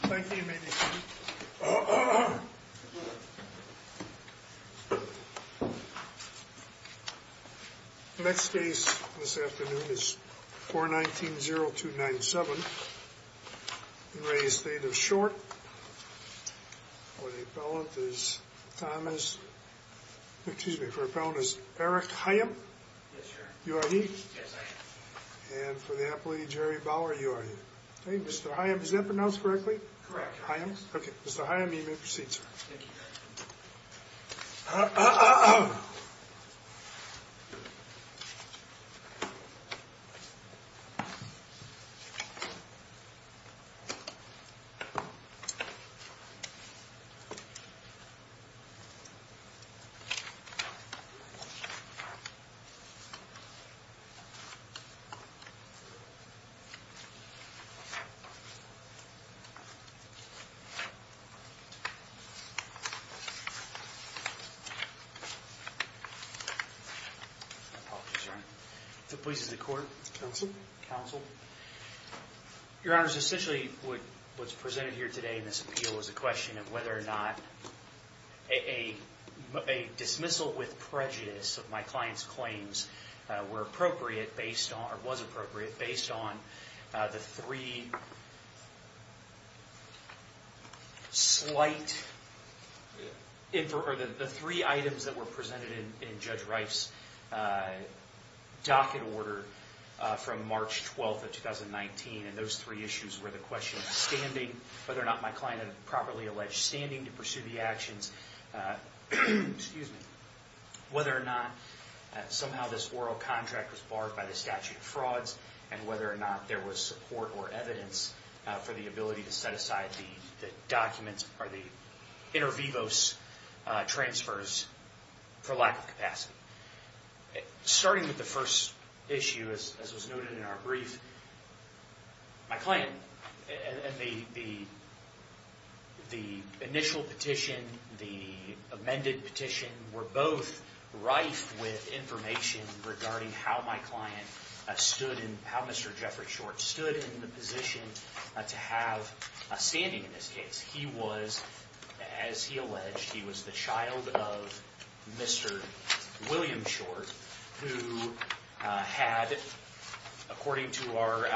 The next case this afternoon is 419-0297, in re Estate of Short. For the appellant is Thomas, excuse me, for the appellant is Eric Hyam. Yes, sir. You are he? Yes, I am. And for the appellate, Jerry Bauer, you are he. Okay, Mr. Hyam, is that pronounced correctly? Correct. Okay, Mr. Hyam, you may proceed, sir. Thank you. Apologies, Your Honor. If it pleases the Court. Counsel. Counsel. Your Honors, essentially what is presented here today in this appeal is a question of whether or not a dismissal with prejudice of my client's claims were appropriate based on the three items that were presented in Judge Reif's docket order from March 12th of 2019, and those three issues were the question of standing, whether or not my client had a properly alleged standing to pursue the actions, whether or not somehow this oral contract was barred by the statute of frauds, and whether or not there was support or evidence for the ability to set aside the documents or the inter vivos transfers for lack of capacity. Starting with the first issue, as was noted in our brief, my client and the initial petition, the amended petition, were both rife with information regarding how my client stood in, how Mr. Jeffrey Short stood in the position to have a standing in this case. He was, as he alleged, he was the child of Mr. William Short, who had, according to our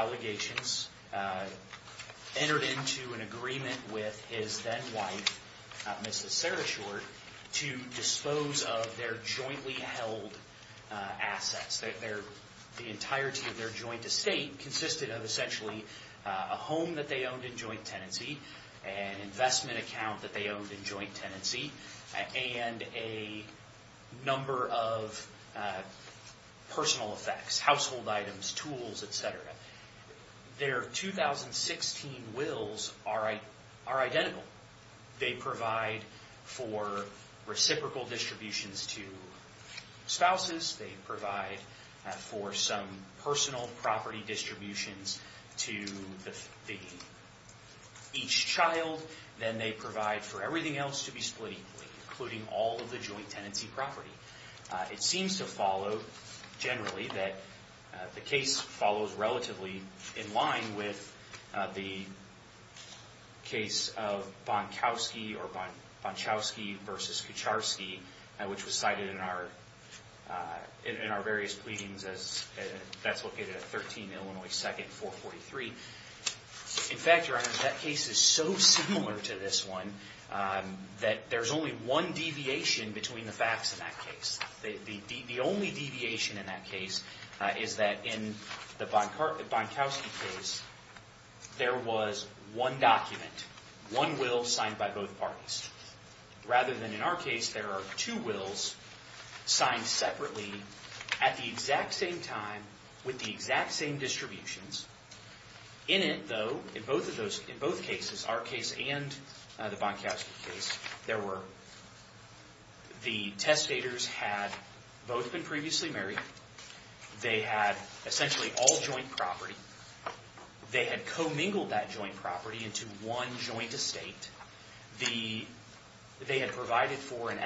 to dispose of their jointly held assets. The entirety of their joint estate consisted of essentially a home that they owned in joint tenancy, an investment account that they owned in joint tenancy, and a number of personal effects, household items, tools, etc. Their 2016 wills are identical. They provide for reciprocal distributions to spouses. They provide for some personal property distributions to each child. Then they provide for everything else to be split equally, including all of the joint tenancy property. It seems to follow, generally, that the case follows relatively in line with the case of Bonkowski versus Kucharski, which was cited in our various pleadings. That's located at 13 Illinois 2nd, 443. In fact, Your Honor, that case is so similar to this one that there's only one deviation between the facts in that case. The only deviation in that case is that in the Bonkowski case, there was one document, one will signed by both parties. Rather than in our case, there are two wills signed separately at the exact same time with the exact same distributions. In it, though, in both cases, our case and the Bonkowski case, the testators had both been previously married. They had essentially all joint property. They had commingled that joint property into one joint estate. They had provided for an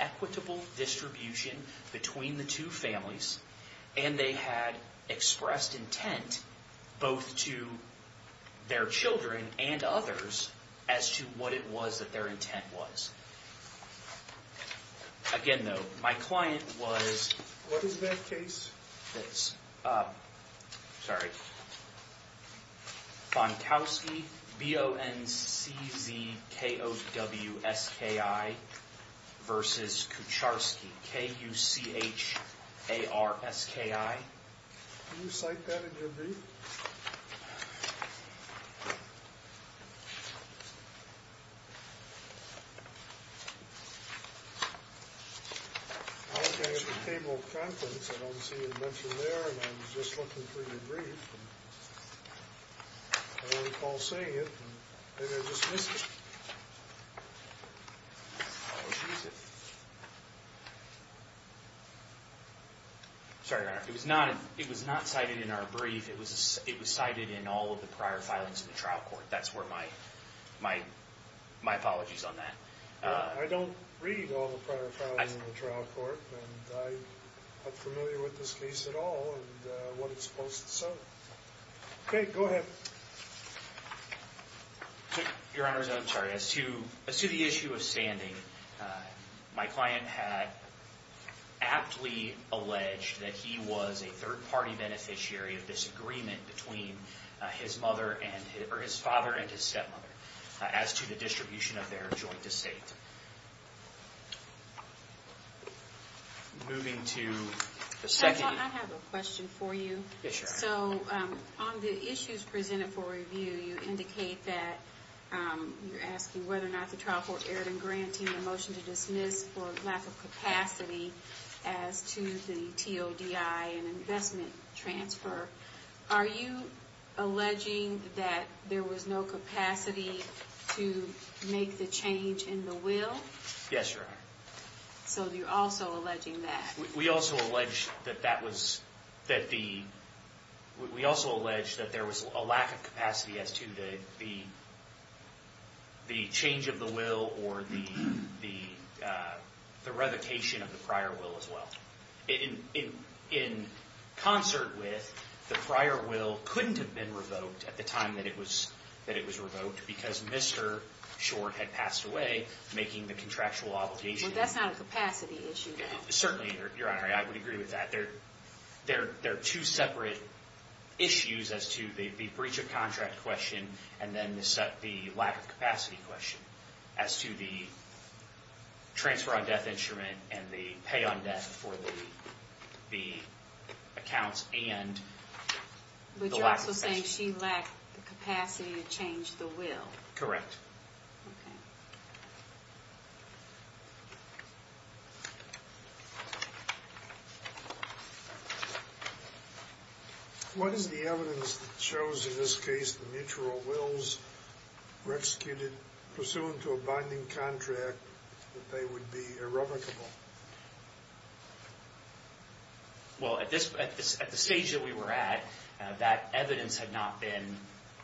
equitable distribution between the two families, and they had expressed intent both to their children and others as to what it was that their intent was. Again, though, my client was... What is that case? This. Sorry. Bonkowski, B-O-N-C-Z-K-O-W-S-K-I versus Kucharski, K-U-C-H-A-R-S-K-I. Can you cite that in your brief? I look at the table of contents. I don't see it mentioned there, and I'm just looking for your brief. I don't recall seeing it, and maybe I just missed it. I'll just use it. Sorry, Your Honor. It was not cited in our brief. It was cited in all of the prior filings in the trial court. That's where my apologies on that. I don't read all the prior filings in the trial court, and I'm not familiar with this case at all, and what it's supposed to say. Okay, go ahead. Your Honor, I'm sorry. As to the issue of standing, my client had aptly alleged that he was a third-party beneficiary of disagreement between his father and his stepmother as to the distribution of their joint estate. Moving to the second... Judge, I have a question for you. Yes, Your Honor. So, on the issues presented for review, you indicate that you're asking whether or not the trial court erred in granting the motion to dismiss for lack of capacity as to the TODI and investment transfer. Are you alleging that there was no capacity to make the change in the will? Yes, Your Honor. So, you're also alleging that. We also allege that there was a lack of capacity as to the change of the will or the revocation of the prior will as well. In concert with the prior will couldn't have been revoked at the time that it was revoked because Mr. Short had passed away, making the contractual obligation... Well, that's not a capacity issue. Certainly, Your Honor, I would agree with that. They're two separate issues as to the breach of contract question and then the lack of capacity question as to the transfer on death instrument and the pay on death for the accounts and the lack of capacity. But you're also saying she lacked the capacity to change the will. Correct. Okay. What is the evidence that shows in this case the mutual wills were executed pursuant to a binding contract that they would be irrevocable? Well, at the stage that we were at, that evidence had not been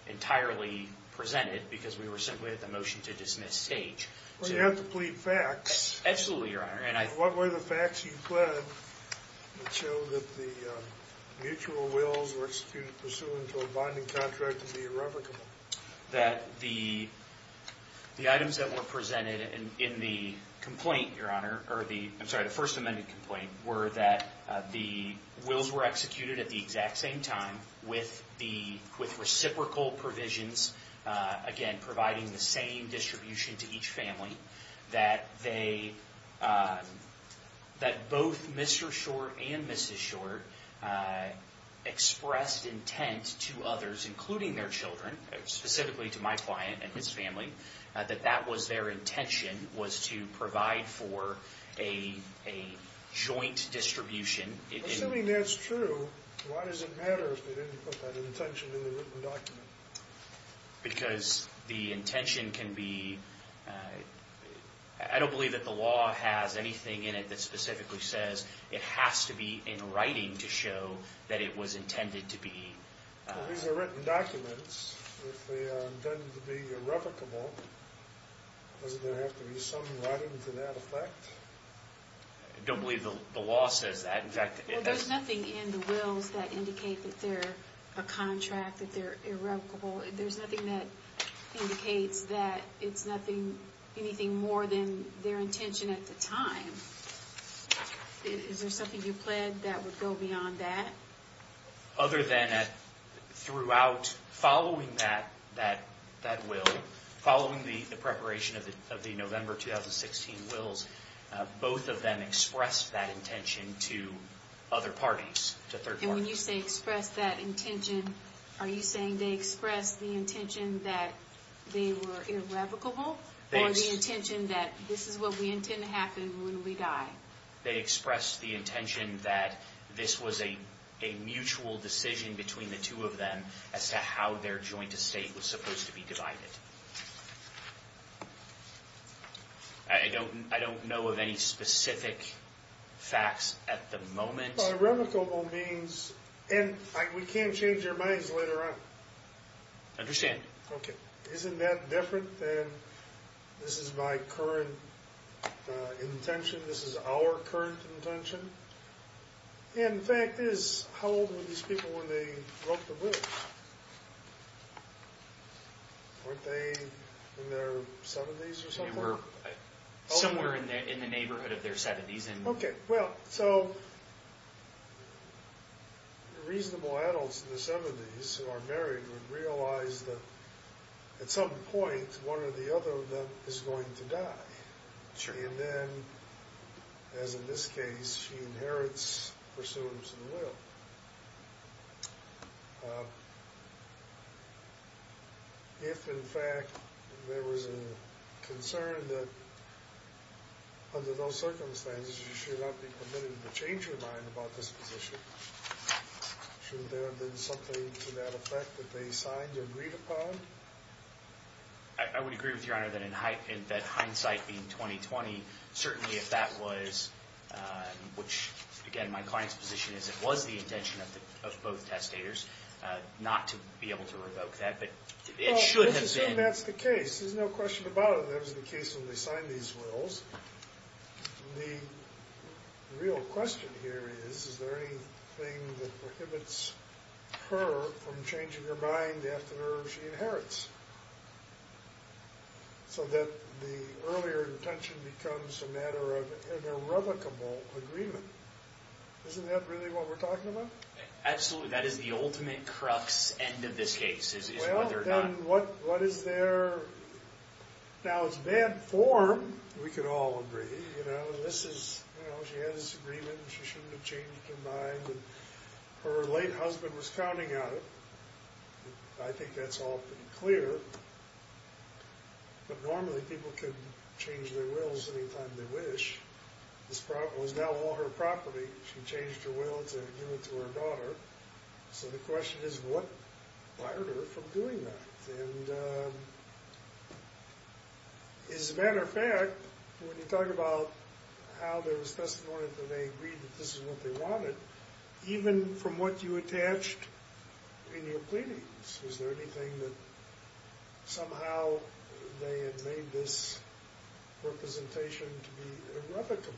entirely presented because we were simply at the motion to dismiss stage. Well, you have to plead facts. Absolutely, Your Honor. What were the facts you pled that show that the mutual wills were executed pursuant to a binding contract to be irrevocable? That the items that were presented in the complaint, Your Honor, or the first amended complaint, were that the wills were executed at the exact same time with reciprocal provisions, again, providing the same distribution to each family, that both Mr. Short and Mrs. Short expressed intent to others, including their children, specifically to my client and his family, that that was their intention, was to provide for a joint distribution. Assuming that's true, why does it matter if they didn't put that intention in the written document? Because the intention can be... I don't believe that the law has anything in it that specifically says it has to be in writing to show that it was intended to be... Well, these are written documents. If they are intended to be irrevocable, doesn't there have to be some writing to that effect? I don't believe the law says that. In fact... There's nothing in the wills that indicate that they're a contract, that they're irrevocable. There's nothing that indicates that it's anything more than their intention at the time. Is there something you pled that would go beyond that? Other than that, throughout, following that will, following the preparation of the November 2016 wills, both of them expressed that intention to other parties, to third parties. And when you say expressed that intention, are you saying they expressed the intention that they were irrevocable, or the intention that this is what we intend to happen when we die? They expressed the intention that this was a mutual decision between the two of them as to how their joint estate was supposed to be divided. I don't know of any specific facts at the moment. Irrevocable means... And we can't change our minds later on. Understand. Okay. Isn't that different than this is my current intention, this is our current intention? And the fact is, how old were these people when they wrote the wills? Weren't they in their 70s or something? Somewhere in the neighborhood of their 70s. Okay. Well, so reasonable adults in the 70s who are married would realize that at some point, one or the other of them is going to die. And then, as in this case, she inherits pursuance of the will. If, in fact, there was a concern that, under those circumstances, you should not be permitted to change your mind about this position, shouldn't there have been something to that effect that they signed or agreed upon? I would agree with Your Honor that in hindsight, being 2020, certainly if that was, which, again, my client's position is it was the intention of both testators, not to be able to revoke that, but it should have been. Well, let's assume that's the case. There's no question about it. That was the case when they signed these wills. The real question here is, is there anything that prohibits her from changing her mind after she inherits? So that the earlier intention becomes a matter of irrevocable agreement. Isn't that really what we're talking about? Absolutely. That is the ultimate crux end of this case, is whether or not... Well, then, what is their... Now, it's bad form. We could all agree. You know, this is, you know, she had this agreement. She shouldn't have changed her mind. Her late husband was counting on it. I think that's all pretty clear. But normally, people can change their wills anytime they wish. This was now all her property. She changed her will to give it to her daughter. So the question is, what barred her from doing that? And, as a matter of fact, when you talk about how there was testimony that they agreed that this is what they wanted, even from what you attached in your pleadings, was there anything that somehow they had made this representation to be irrevocable?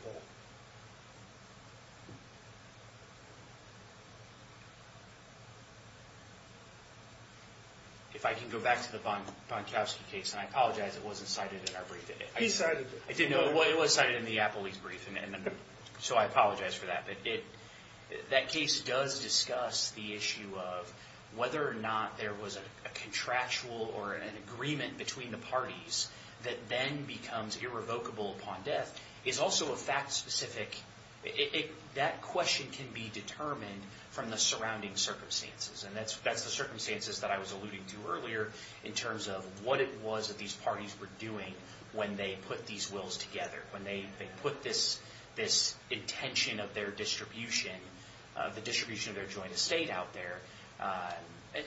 If I can go back to the von Tauschke case, and I apologize, it wasn't cited in our brief. He cited it. I didn't know... well, it was cited in the Applebee's brief, so I apologize for that. That case does discuss the issue of whether or not there was a contractual or an agreement between the parties that then becomes irrevocable upon death. It's also a fact-specific... that question can be determined from the surrounding circumstances. And that's the circumstances that I was alluding to earlier in terms of what it was that these parties were doing when they put these wills together, when they put this intention of their distribution, the distribution of their joint estate out there.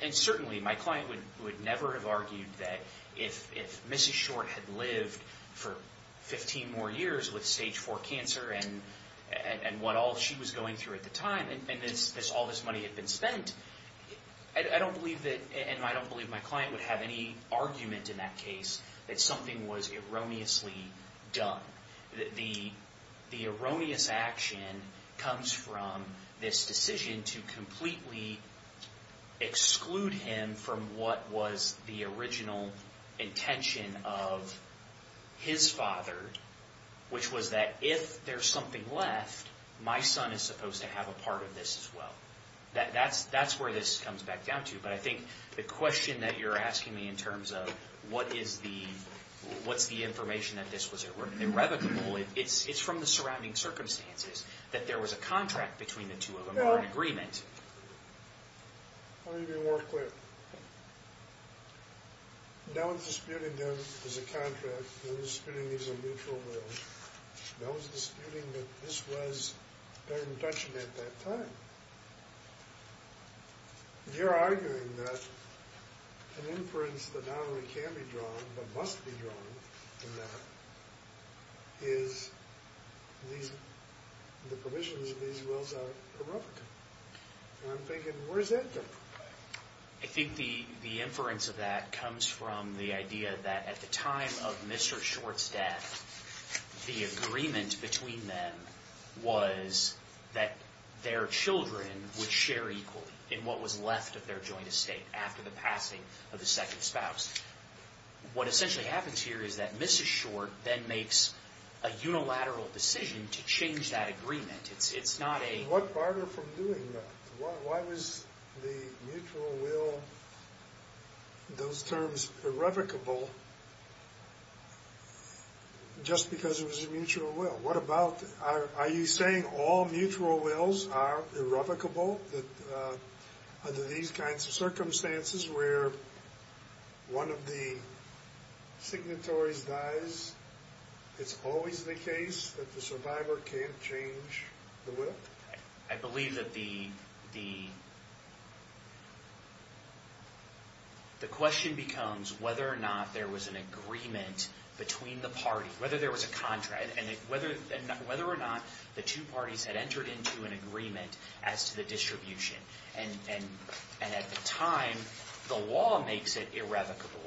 And certainly, my client would never have argued that if Mrs. Short had lived for 15 more years with stage 4 cancer and what all she was going through at the time, and all this money had been spent, I don't believe that... and I don't believe my client would have any argument in that case that something was erroneously done. The erroneous action comes from this decision to completely exclude him from what was the original intention of his father, which was that if there's something left, my son is supposed to have a part of this as well. That's where this comes back down to. But I think the question that you're asking me in terms of what is the... what's the information that this was irrevocable, it's from the surrounding circumstances that there was a contract between the two of them or an agreement. Let me be more clear. No one's disputing them as a contract. No one's disputing these are mutual wills. No one's disputing that this was their intention at that time. You're arguing that an inference that not only can be drawn but must be drawn in that is the provisions of these wills are irrevocable. And I'm thinking, where's that coming from? I think the inference of that comes from the idea that at the time of Mr. Short's death, the agreement between them was that their children would share equally in what was left of their joint estate after the passing of the second spouse. What essentially happens here is that Mrs. Short then makes a unilateral decision to change that agreement. It's not a... And what bar her from doing that? Why was the mutual will, those terms, irrevocable just because it was a mutual will? What about... are you saying all mutual wills are irrevocable under these kinds of circumstances where one of the signatories dies? It's always the case that the survivor can't change the will? I believe that the question becomes whether or not there was an agreement between the party, whether there was a contract, and whether or not the two parties had entered into an agreement as to the distribution. And at the time, the law makes it irrevocable.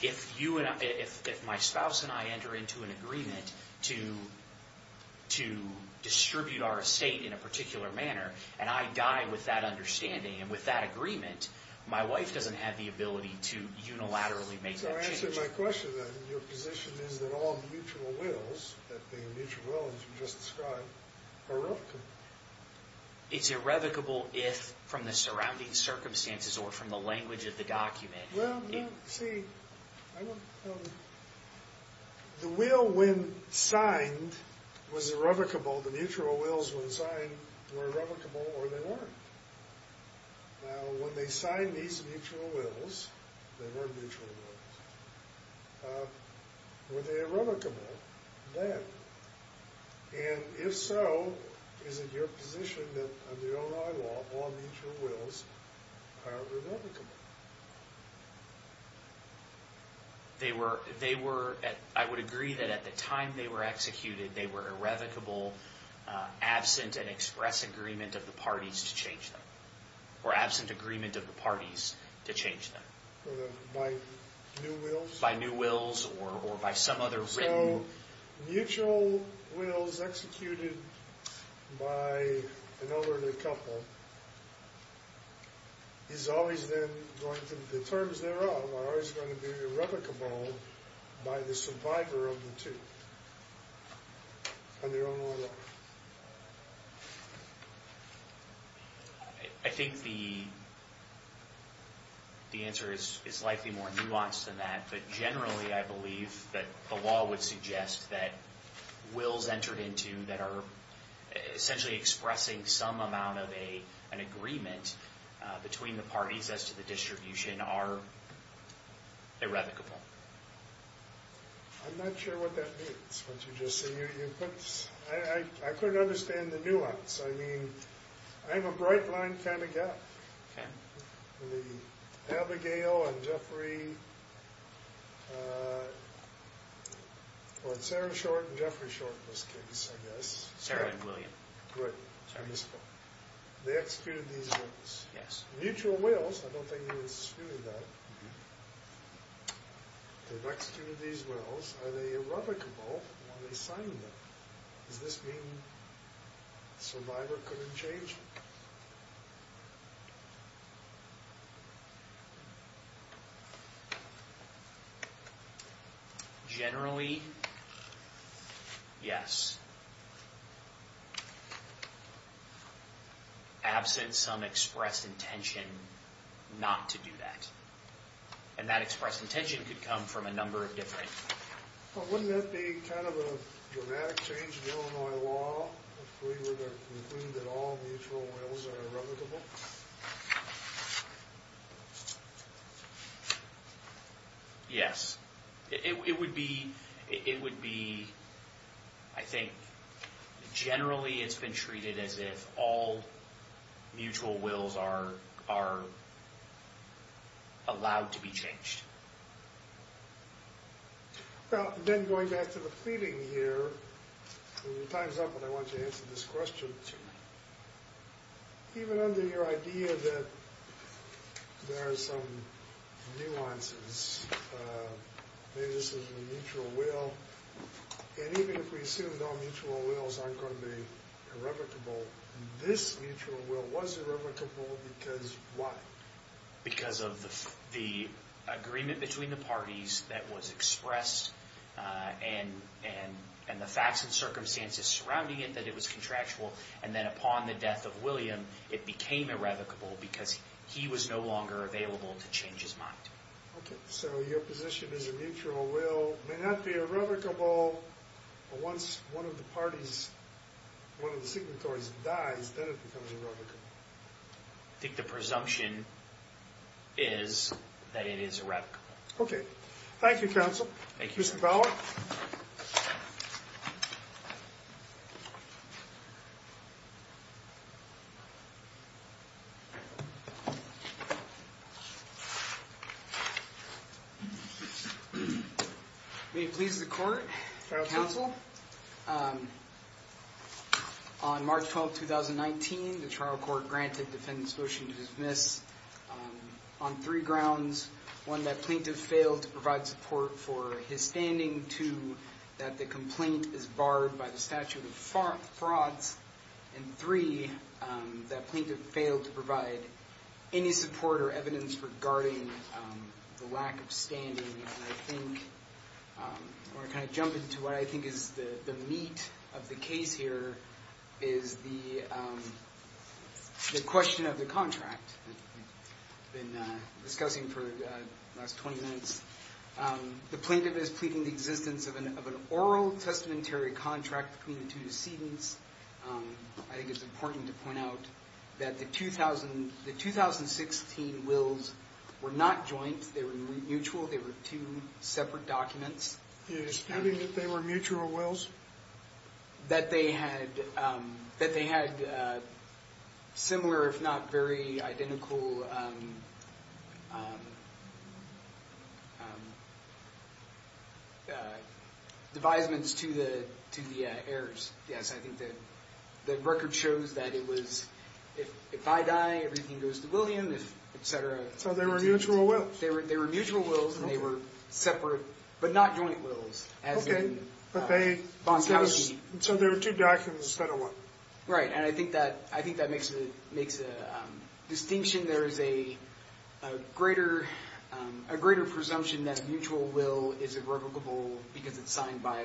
If you and I... if my spouse and I enter into an agreement to distribute our estate in a particular manner, and I die with that understanding and with that agreement, my wife doesn't have the ability to unilaterally make that change. So answering my question, then, your position is that all mutual wills, that being mutual wills you just described, are irrevocable. It's irrevocable if, from the surrounding circumstances or from the language of the document... Well, you see, the will, when signed, was irrevocable. The mutual wills, when signed, were irrevocable or they weren't. Now, when they signed these mutual wills, they were mutual wills, were they irrevocable then? And, if so, is it your position that, under your own eyewall, all mutual wills are irrevocable? They were... they were... I would agree that at the time they were executed, they were irrevocable, absent an express agreement of the parties to change them, or absent agreement of the parties to change them. By new wills? By new wills or by some other written... So, mutual wills executed by an elderly couple is always then going to... The terms thereof are always going to be irrevocable by the survivor of the two, under your own law. I think the answer is likely more nuanced than that. But, generally, I believe that the law would suggest that wills entered into that are essentially expressing some amount of an agreement between the parties as to the distribution are irrevocable. I'm not sure what that means, what you just said. I couldn't understand the nuance. I mean, I'm a bright line kind of guy. Okay. The Abigail and Jeffrey... Well, Sarah Short and Jeffrey Short were kids, I guess. Sarah and William. Good. They executed these wills. Mutual wills, I don't think they executed that. They've executed these wills. Are they irrevocable? Are they signed? Does this mean the survivor couldn't change them? Generally, yes. Absent some expressed intention not to do that. And that expressed intention could come from a number of different... Well, wouldn't that be kind of a dramatic change in Illinois law if we were to conclude that all mutual wills are irrevocable? Yes. It would be... I think generally it's been treated as if all mutual wills are allowed to be changed. Well, then going back to the pleading here, and your time's up, but I want you to answer this question too. Even under your idea that there are some nuances, maybe this is a mutual will, and even if we assume all mutual wills aren't going to be irrevocable, this mutual will was irrevocable because why? Because of the agreement between the parties that was expressed, and the facts and circumstances surrounding it that it was contractual, and then upon the death of William, it became irrevocable because he was no longer available to change his mind. Okay. So your position is a mutual will may not be irrevocable, but once one of the parties, one of the signatories dies, then it becomes irrevocable. I think the presumption is that it is irrevocable. Okay. Thank you, Counsel. Thank you, Your Honor. Mr. Bauer? May it please the Court, Counsel. On March 12, 2019, the trial court granted defendants' motion to dismiss on three grounds. One, that plaintiff failed to provide support for his standing. Two, that the complaint is barred by the statute of frauds. And three, that plaintiff failed to provide any support or evidence regarding the lack of standing. And I think, I want to kind of jump into what I think is the meat of the case here, is the question of the contract that we've been discussing for the last 20 minutes. The plaintiff is pleading the existence of an oral testamentary contract between the two decedents. I think it's important to point out that the 2016 wills were not joint. They were mutual. They were two separate documents. You're disputing that they were mutual wills? That they had similar, if not very identical, devisements to the heirs. Yes, I think that the record shows that it was, if I die, everything goes to William, et cetera. So they were mutual wills? They were mutual wills, and they were separate, but not joint wills. Okay, so there were two documents instead of one. Right, and I think that makes a distinction. There is a greater presumption that a mutual will is irrevocable because it's signed by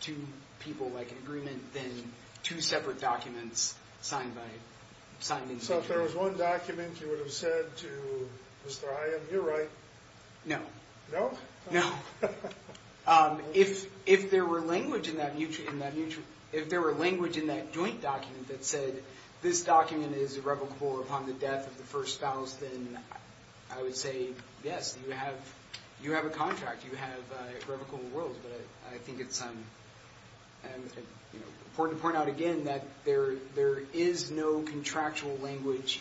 two people, like an agreement, than two separate documents signed individually. So if there was one document you would have said to Mr. Hyam, you're right. No. No? No. If there were language in that joint document that said this document is irrevocable upon the death of the first spouse, then I would say, yes, you have a contract. You have irrevocable wills. But I think it's important to point out again that there is no contractual language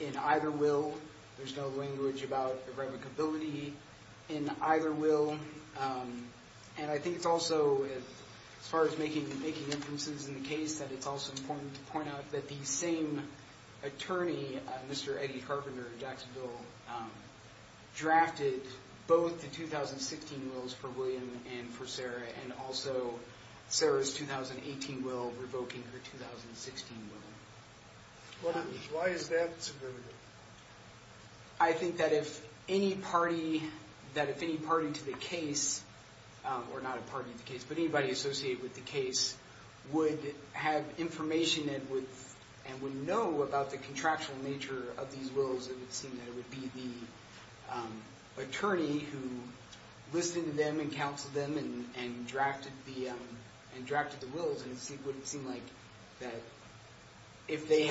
in either will. There's no language about irrevocability in either will. And I think it's also, as far as making inferences in the case, that it's also important to point out that the same attorney, Mr. Eddie Carpenter in Jacksonville, drafted both the 2016 wills for William and for Sarah, and also Sarah's 2018 will revoking her 2016 will. Why is that significant? I think that if any party to the case, or not a party to the case, but anybody associated with the case, would have information and would know about the contractual nature of these wills, it would seem that it would be the attorney who listened to them and counseled them and drafted the wills.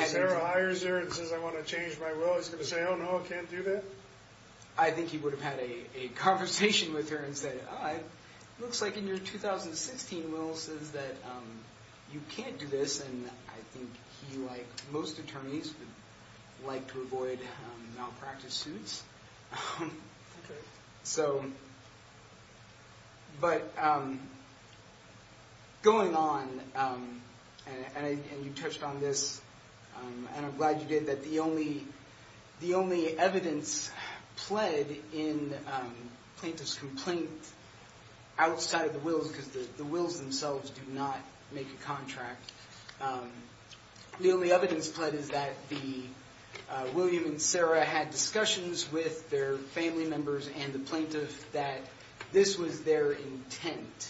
Sarah hires her and says, I want to change my will. Is he going to say, oh no, I can't do that? I think he would have had a conversation with her and said, it looks like in your 2016 will says that you can't do this. And I think he, like most attorneys, would like to avoid malpractice suits. Okay. But going on, and you touched on this, and I'm glad you did, that the only evidence pled in plaintiff's complaint outside of the wills, because the wills themselves do not make a contract, the only evidence pled is that the, William and Sarah had discussions with their family members and the plaintiff that this was their intent.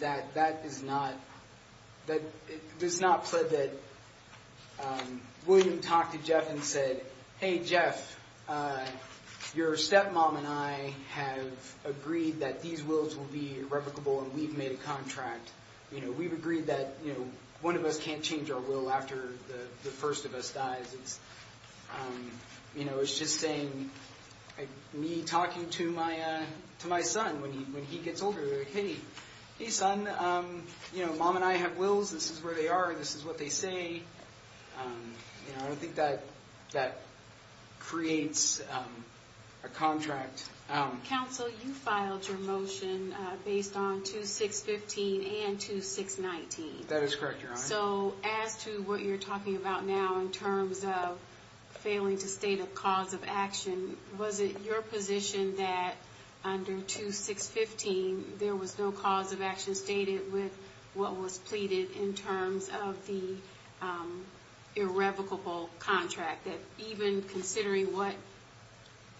That that is not, that it is not pled that William talked to Jeff and said, hey Jeff, your stepmom and I have agreed that these wills will be irrevocable and we've made a contract. We've agreed that one of us can't change our will after the first of us dies. It's just saying, me talking to my son when he gets older, hey son, mom and I have wills, this is where they are, this is what they say. I think that creates a contract. Counsel, you filed your motion based on 2-615 and 2-619. That is correct, Your Honor. So as to what you're talking about now in terms of failing to state a cause of action, was it your position that under 2-615 there was no cause of action stated with what was pleaded in terms of the irrevocable contract? That even considering what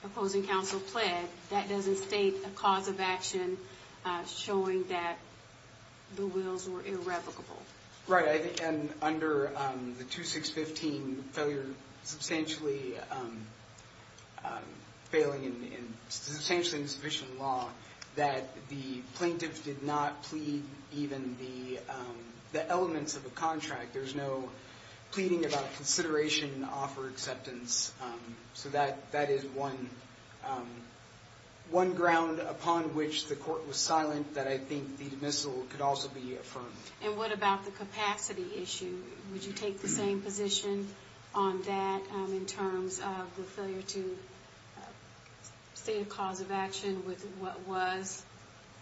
opposing counsel pled, that doesn't state a cause of action showing that the wills were irrevocable. Right, and under the 2-615 failure, substantially failing and substantially insufficient in law, that the plaintiff did not plead even the elements of the contract. There's no pleading about consideration, offer, acceptance. So that is one ground upon which the court was silent that I think the dismissal could also be affirmed. And what about the capacity issue? Would you take the same position on that in terms of the failure to state a cause of action with what was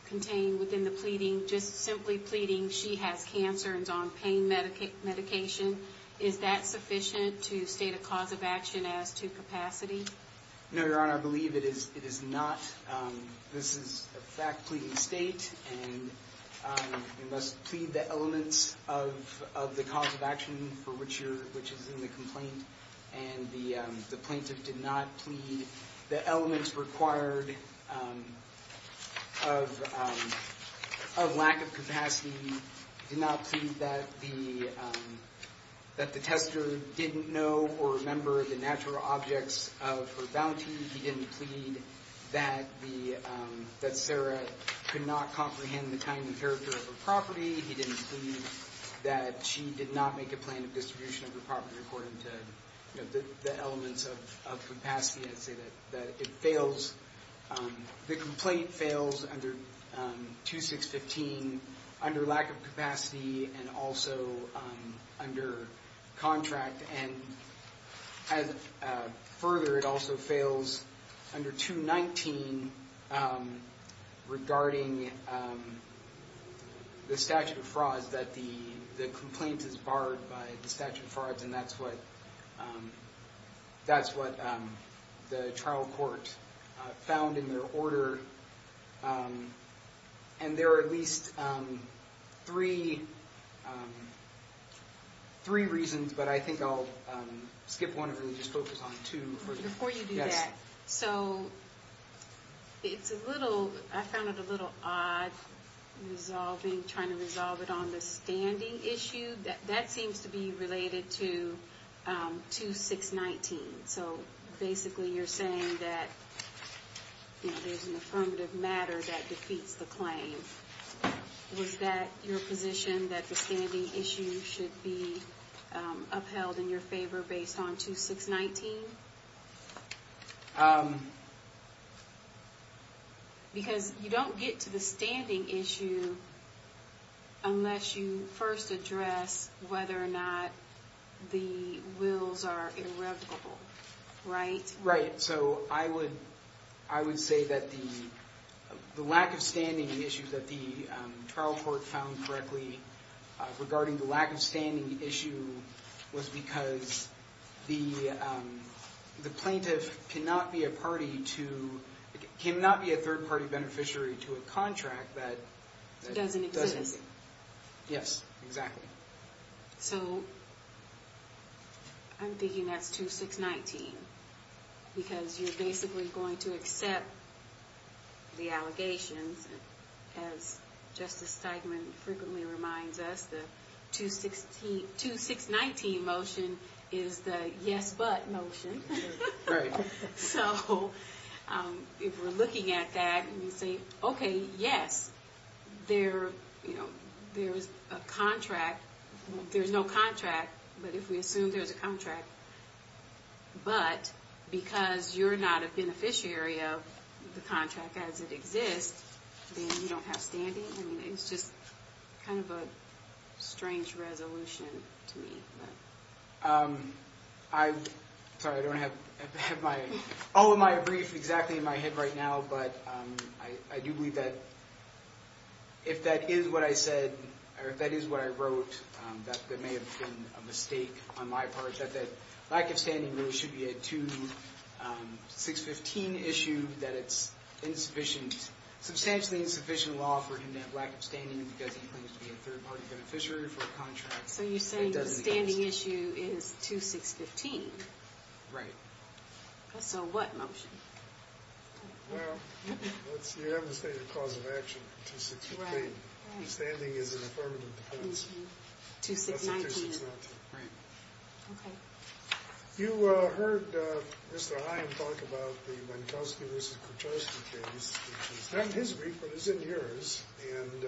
contained within the pleading? Just simply pleading she has cancer and is on pain medication. Is that sufficient to state a cause of action as to capacity? No, Your Honor. I believe it is not. This is a fact pleading state and you must plead the elements of the cause of action for which is in the complaint. And the plaintiff did not plead the elements required of lack of capacity. He did not plead that the tester didn't know or remember the natural objects of her bounty. He didn't plead that Sarah could not comprehend the time and character of her property. He didn't plead that she did not make a plan of distribution of her property according to the elements of capacity. I'd say that it fails. The complaint fails under 2615 under lack of capacity and also under contract. And further, it also fails under 219 regarding the statute of frauds that the complaint is barred by the statute of frauds. And that's what the trial court found in their order. And there are at least three reasons, but I think I'll skip one and just focus on two. Before you do that, I found it a little odd trying to resolve it on the standing issue. That seems to be related to 2619. So basically you're saying that there's an affirmative matter that defeats the claim. Was that your position that the standing issue should be upheld in your favor based on 2619? Because you don't get to the standing issue unless you first address whether or not the wills are irrevocable. Right? Right. So I would say that the lack of standing issue that the trial court found correctly regarding the lack of standing issue was because the plaintiff cannot be a third party beneficiary to a contract that doesn't exist. Yes, exactly. So I'm thinking that's 2619. Because you're basically going to accept the allegations, as Justice Steigman frequently reminds us, the 2619 motion is the yes but motion. Right. So if we're looking at that and we say, okay, yes, there's a contract. There's no contract, but if we assume there's a contract, but because you're not a beneficiary of the contract as it exists, then you don't have standing. I mean, it's just kind of a strange resolution to me. I'm sorry, I don't have all of my briefs exactly in my head right now, but I do believe that if that is what I said or if that is what I wrote, that there may have been a mistake on my part. That the lack of standing really should be a 2615 issue, that it's insufficient, substantially insufficient law for him to have lack of standing because he claims to be a third party beneficiary for a contract that doesn't exist. But the standing issue is 2615. Right. So what motion? Well, you have the stated cause of action, 2615. Standing is an affirmative defense. That's the 2619. Right. Okay. You heard Mr. Hyam talk about the Mankowski v. Kurchevsky case, which is not in his brief, but is in yours. And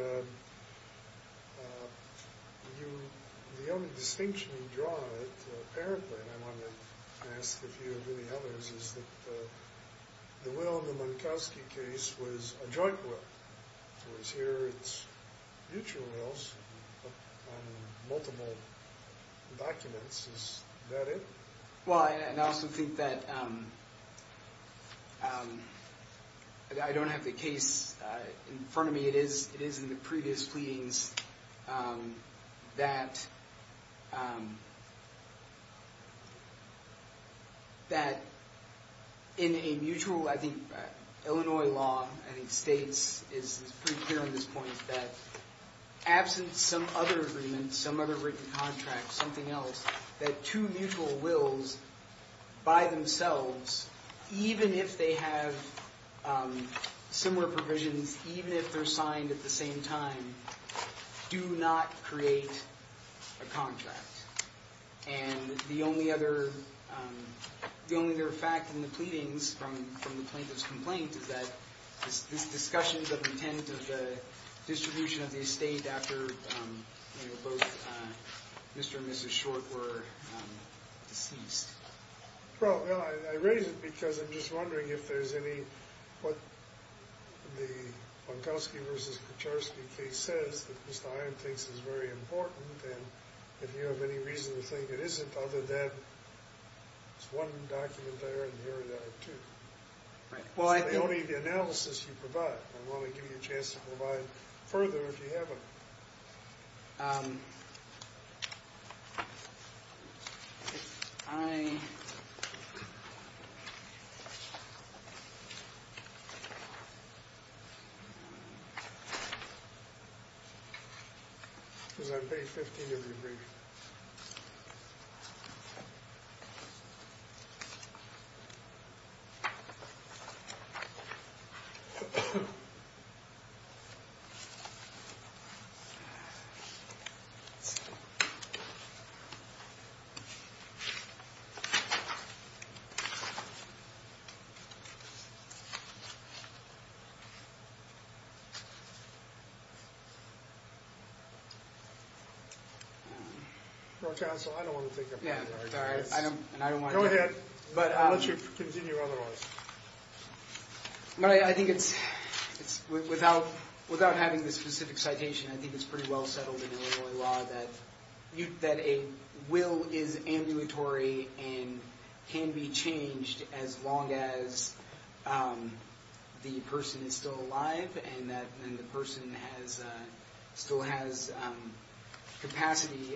the only distinction you draw, apparently, and I want to ask a few of the others, is that the will in the Mankowski case was a joint will. Whereas here it's mutual wills on multiple documents. Is that it? It's pretty clear on this point that absent some other agreement, some other written contract, something else, that two mutual wills by themselves, even if they have similar provisions, even if they're signed at the same time, do not create a contract. And the only other fact in the pleadings from the plaintiff's complaint is that these discussions of the intent of the distribution of the estate after both Mr. and Mrs. Short were deceased. Well, I raise it because I'm just wondering if there's any, what the Mankowski v. Kurchevsky case says that Mr. Hyam thinks is very important. And if you have any reason to think it isn't, other than it's one document there and here are the other two. Right. It's not the only analysis you provide. I'm willing to give you a chance to provide further if you have it. I. The. So I don't want to. Yeah, I don't. And I don't want to. Go ahead. But I'll let you continue. Otherwise. But I think it's without without having this specific citation, I think it's pretty well settled in Illinois law that you that a will is ambulatory and can be changed as long as the person is still alive and that the person has still has capacity.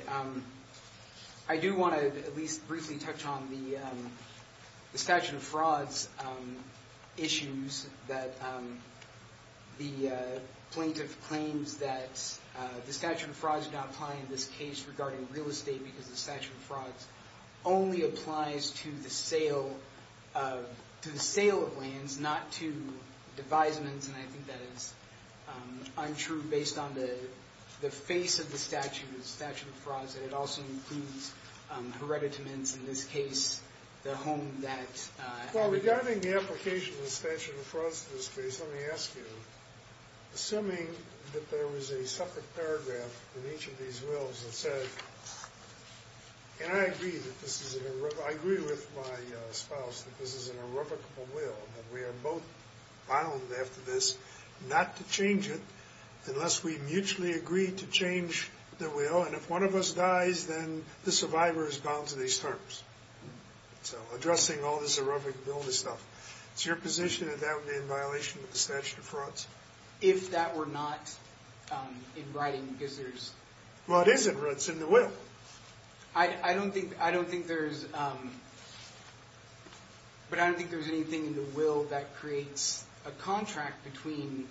I do want to at least briefly touch on the statute of frauds issues that the plaintiff claims that the statute of frauds do not apply in this case regarding real estate because the statute of frauds only applies to the sale of the sale of lands, not to devisements. And I think that is untrue based on the face of the statute, the statute of frauds. And it also includes hereditamins in this case, the home that. Well, regarding the application of the statute of frauds in this case, let me ask you, assuming that there was a separate paragraph in each of these wills that said, and I agree that this is. I agree with my spouse that this is an irrevocable will that we are both bound after this not to change it unless we mutually agree to change the will. And if one of us dies, then the survivor is bound to these terms. So addressing all this irrevocable stuff, it's your position that that would be in violation of the statute of frauds. If that were not in writing, because there's. Well, it is. It's in the will. I don't think I don't think there is. But I don't think there's anything in the will that creates a contract between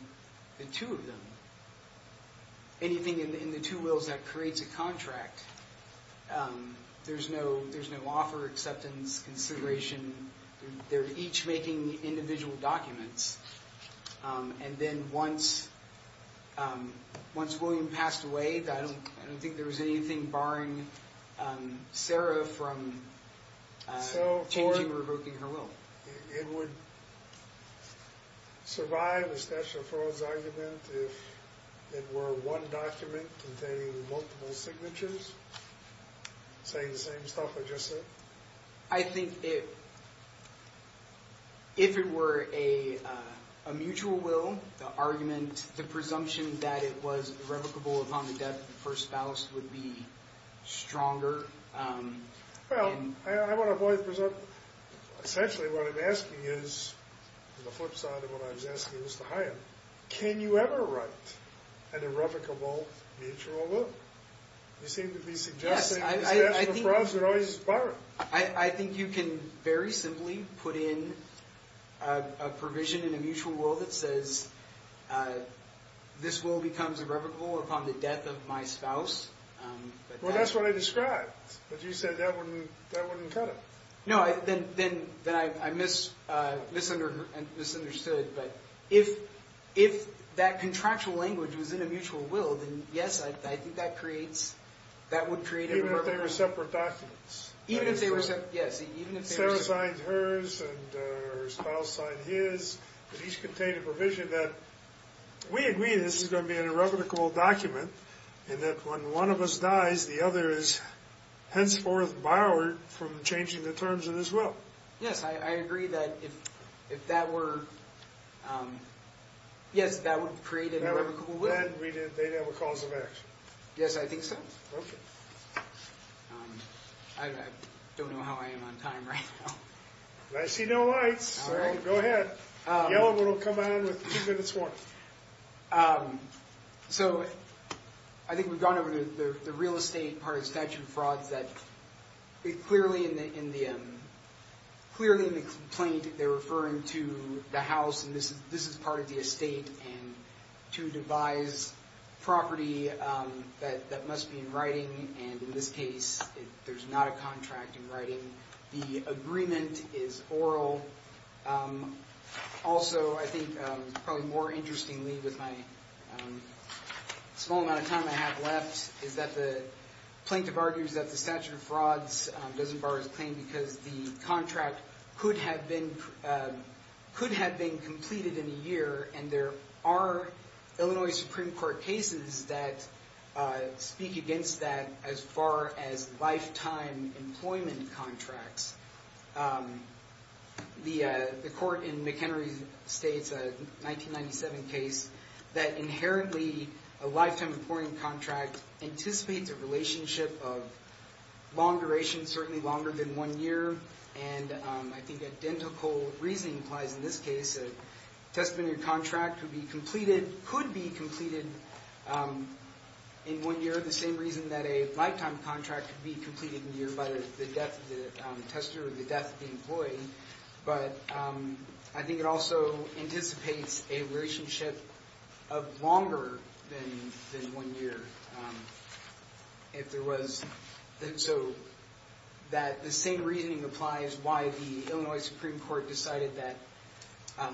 the two of them. Anything in the two wills that creates a contract. There's no there's no offer acceptance consideration. They're each making individual documents. And then once once William passed away, I don't I don't think there was anything barring Sarah from changing or revoking her will. It would survive a statute of frauds argument if it were one document containing multiple signatures. Say the same stuff I just said. I think it. If it were a mutual will, the argument, the presumption that it was irrevocable upon the death of the first spouse would be stronger. Well, I want to avoid presumption. Essentially, what I'm asking is the flip side of what I was asking was to hire. Can you ever write an irrevocable mutual will? You seem to be suggesting I think you can very simply put in a provision in a mutual will that says this will becomes irrevocable upon the death of my spouse. Well, that's what I described. But you said that wouldn't that wouldn't cut it. No, I then then then I miss this under and misunderstood. But if if that contractual language was in a mutual will, then yes, I think that creates that would create a separate documents. Even if they were separate. Yes. Even if Sarah signed hers and her spouse signed his. He's contained a provision that we agree. This is going to be an irrevocable document. And that when one of us dies, the other is henceforth borrowed from changing the terms of this will. Yes, I agree that if if that were. Yes, that would create an irrevocable will. Then they'd have a cause of action. Yes, I think so. I don't know how I am on time right now. I see no lights. All right, go ahead. We'll come on with two minutes more. So I think we've gone over to the real estate part of statute of frauds that it clearly in the clearly in the complaint. They're referring to the house. And this is this is part of the estate. And to devise property that that must be in writing. And in this case, there's not a contract in writing. The agreement is oral. Also, I think probably more interestingly, with my small amount of time I have left, is that the plaintiff argues that the statute of frauds doesn't bar his claim because the contract could have been could have been completed in a year. And there are Illinois Supreme Court cases that speak against that as far as lifetime employment contracts. The court in McHenry State's 1997 case that inherently a lifetime employment contract anticipates a relationship of long duration, certainly longer than one year. And I think identical reasoning applies. In this case, a testimony contract could be completed, could be completed in one year. The same reason that a lifetime contract could be completed in a year by the death of the tester or the death of the employee. But I think it also anticipates a relationship of longer than one year. If there was, so that the same reasoning applies why the Illinois Supreme Court decided that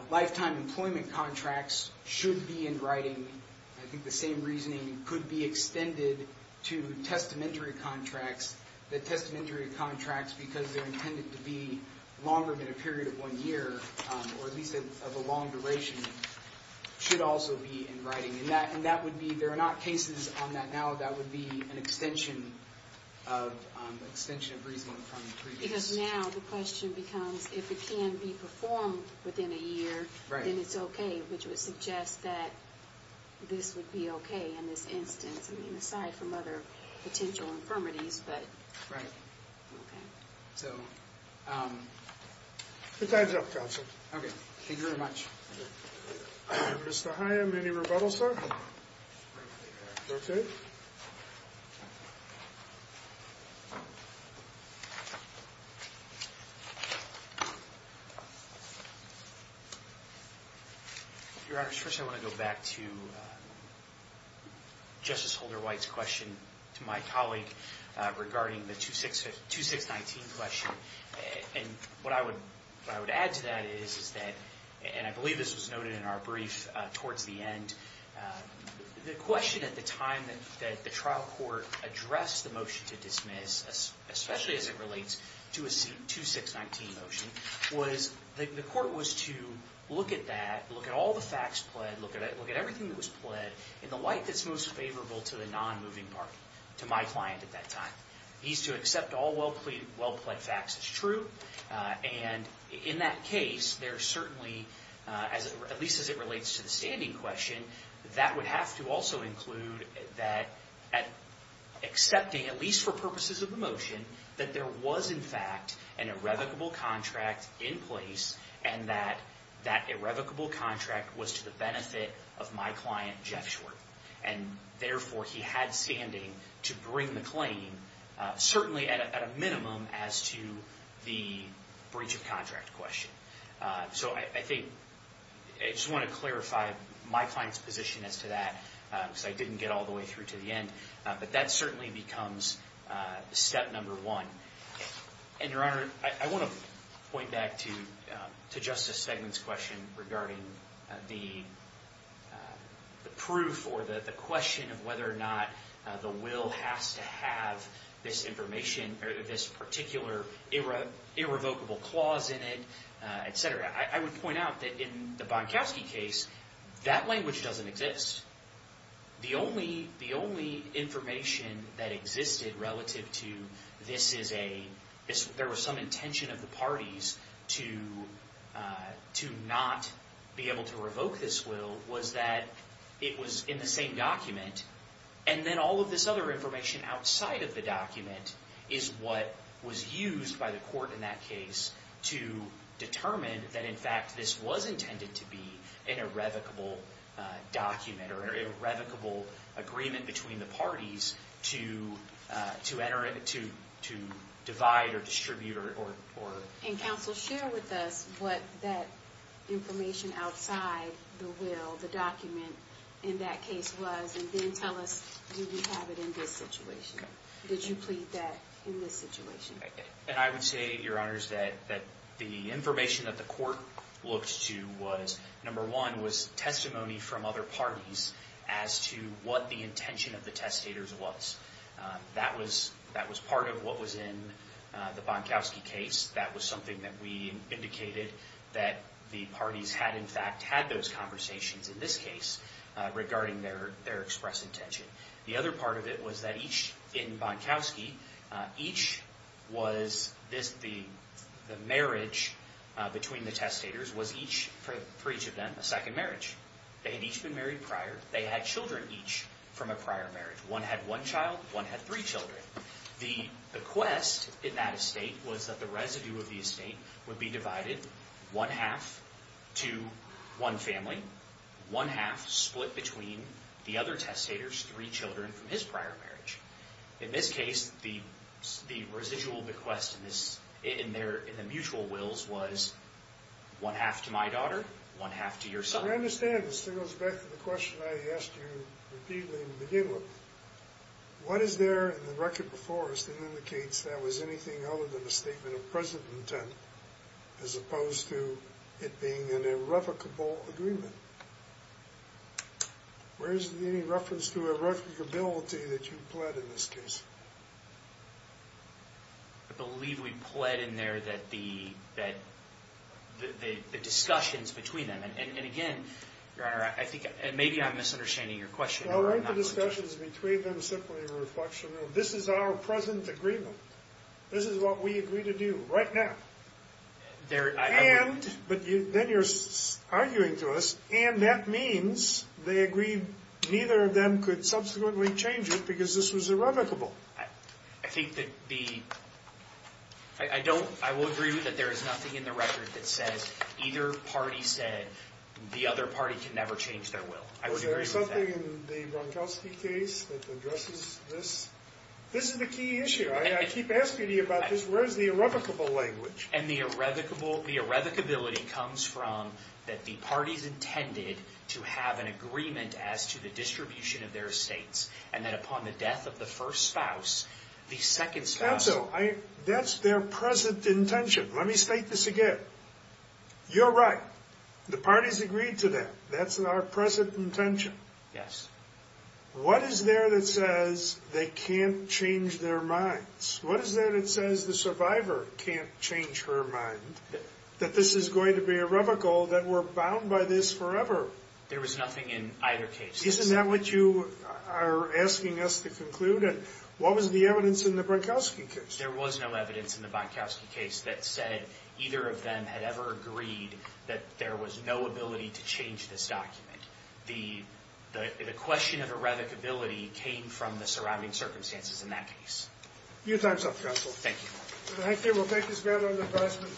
lifetime employment contracts should be in writing. I think the same reasoning could be extended to testamentary contracts. The testamentary contracts, because they're intended to be longer than a period of one year, or at least of a long duration, should also be in writing. And that would be, there are not cases on that now, that would be an extension of, an extension of reasoning from the previous. Because now the question becomes if it can be performed within a year, then it's okay. Which would suggest that this would be okay in this instance. I mean, aside from other potential infirmities, but. Right. Okay. So. The time's up, counsel. Okay. Thank you very much. Mr. Higham, any rebuttals, sir? Okay. Your Honor, first I want to go back to Justice Holder White's question to my colleague regarding the 2619 question. And what I would add to that is, is that, and I believe this was noted in our brief towards the end, the question at the time that the trial court addressed the motion to dismiss, especially as it relates to a 2619 motion, was, the court was to look at that, look at all the facts pled, look at everything that was pled, in the light that's most favorable to the non-moving party, to my client at that time. He's to accept all well-pled facts as true. And in that case, there certainly, at least as it relates to the standing question, that would have to also include that, accepting, at least for purposes of the motion, that there was in fact an irrevocable contract in place, and that that irrevocable contract was to the benefit of my client, Jeff Schwartz. And therefore, he had standing to bring the claim, certainly at a minimum, as to the breach of contract question. So I think, I just want to clarify my client's position as to that, because I didn't get all the way through to the end. But that certainly becomes step number one. And Your Honor, I want to point back to Justice Stegman's question regarding the proof, or the question of whether or not the will has to have this information, or this particular irrevocable clause in it, etc. I would point out that in the Bonkowski case, that language doesn't exist. The only information that existed relative to this is a, there was some intention of the parties to not be able to revoke this will, was that it was in the same document. And then all of this other information outside of the document is what was used by the court in that case to determine that, in fact, this was intended to be an irrevocable document, or an irrevocable agreement between the parties to enter it, to divide or distribute or... And Counsel, share with us what that information outside the will, the document, in that case was, and then tell us, do we have it in this situation? Did you plead that in this situation? And I would say, Your Honors, that the information that the court looked to was, number one, was testimony from other parties as to what the intention of the testators was. That was part of what was in the Bonkowski case. That was something that we indicated that the parties had, in fact, had those conversations in this case regarding their express intention. The other part of it was that each, in Bonkowski, each was... The marriage between the testators was each, for each of them, a second marriage. They had each been married prior. They had children each from a prior marriage. One had one child. One had three children. The bequest in that estate was that the residue of the estate would be divided one-half to one family, one-half split between the other testators' three children from his prior marriage. In this case, the residual bequest in the mutual wills was one-half to my daughter, one-half to your son. I understand. This goes back to the question I asked you repeatedly in the beginning. What is there in the record before us that indicates that was anything other than a statement of present intent as opposed to it being an irrevocable agreement? Where is there any reference to irrevocability that you pled in this case? I believe we pled in there that the discussions between them... And, again, Your Honor, I think maybe I'm misunderstanding your question. No, weren't the discussions between them simply a reflection of this is our present agreement? This is what we agree to do right now. But then you're arguing to us, and that means they agree neither of them could subsequently change it because this was irrevocable. I will agree with you that there is nothing in the record that says either party said the other party can never change their will. I would agree with that. Is there something in the Bronkowski case that addresses this? This is the key issue. I keep asking you about this. Where is the irrevocable language? And the irrevocability comes from that the parties intended to have an agreement as to the distribution of their estates, and that upon the death of the first spouse, the second spouse... Cancel. That's their present intention. Let me state this again. You're right. The parties agreed to that. That's our present intention. What is there that says they can't change their minds? What is there that says the survivor can't change her mind, that this is going to be irrevocable, that we're bound by this forever? There was nothing in either case. Isn't that what you are asking us to conclude? And what was the evidence in the Bronkowski case? There was no evidence in the Bronkowski case that said either of them had ever agreed that there was no ability to change this document. The question of irrevocability came from the surrounding circumstances in that case. Your time is up, counsel. Thank you. Thank you. We'll take this matter under advisement.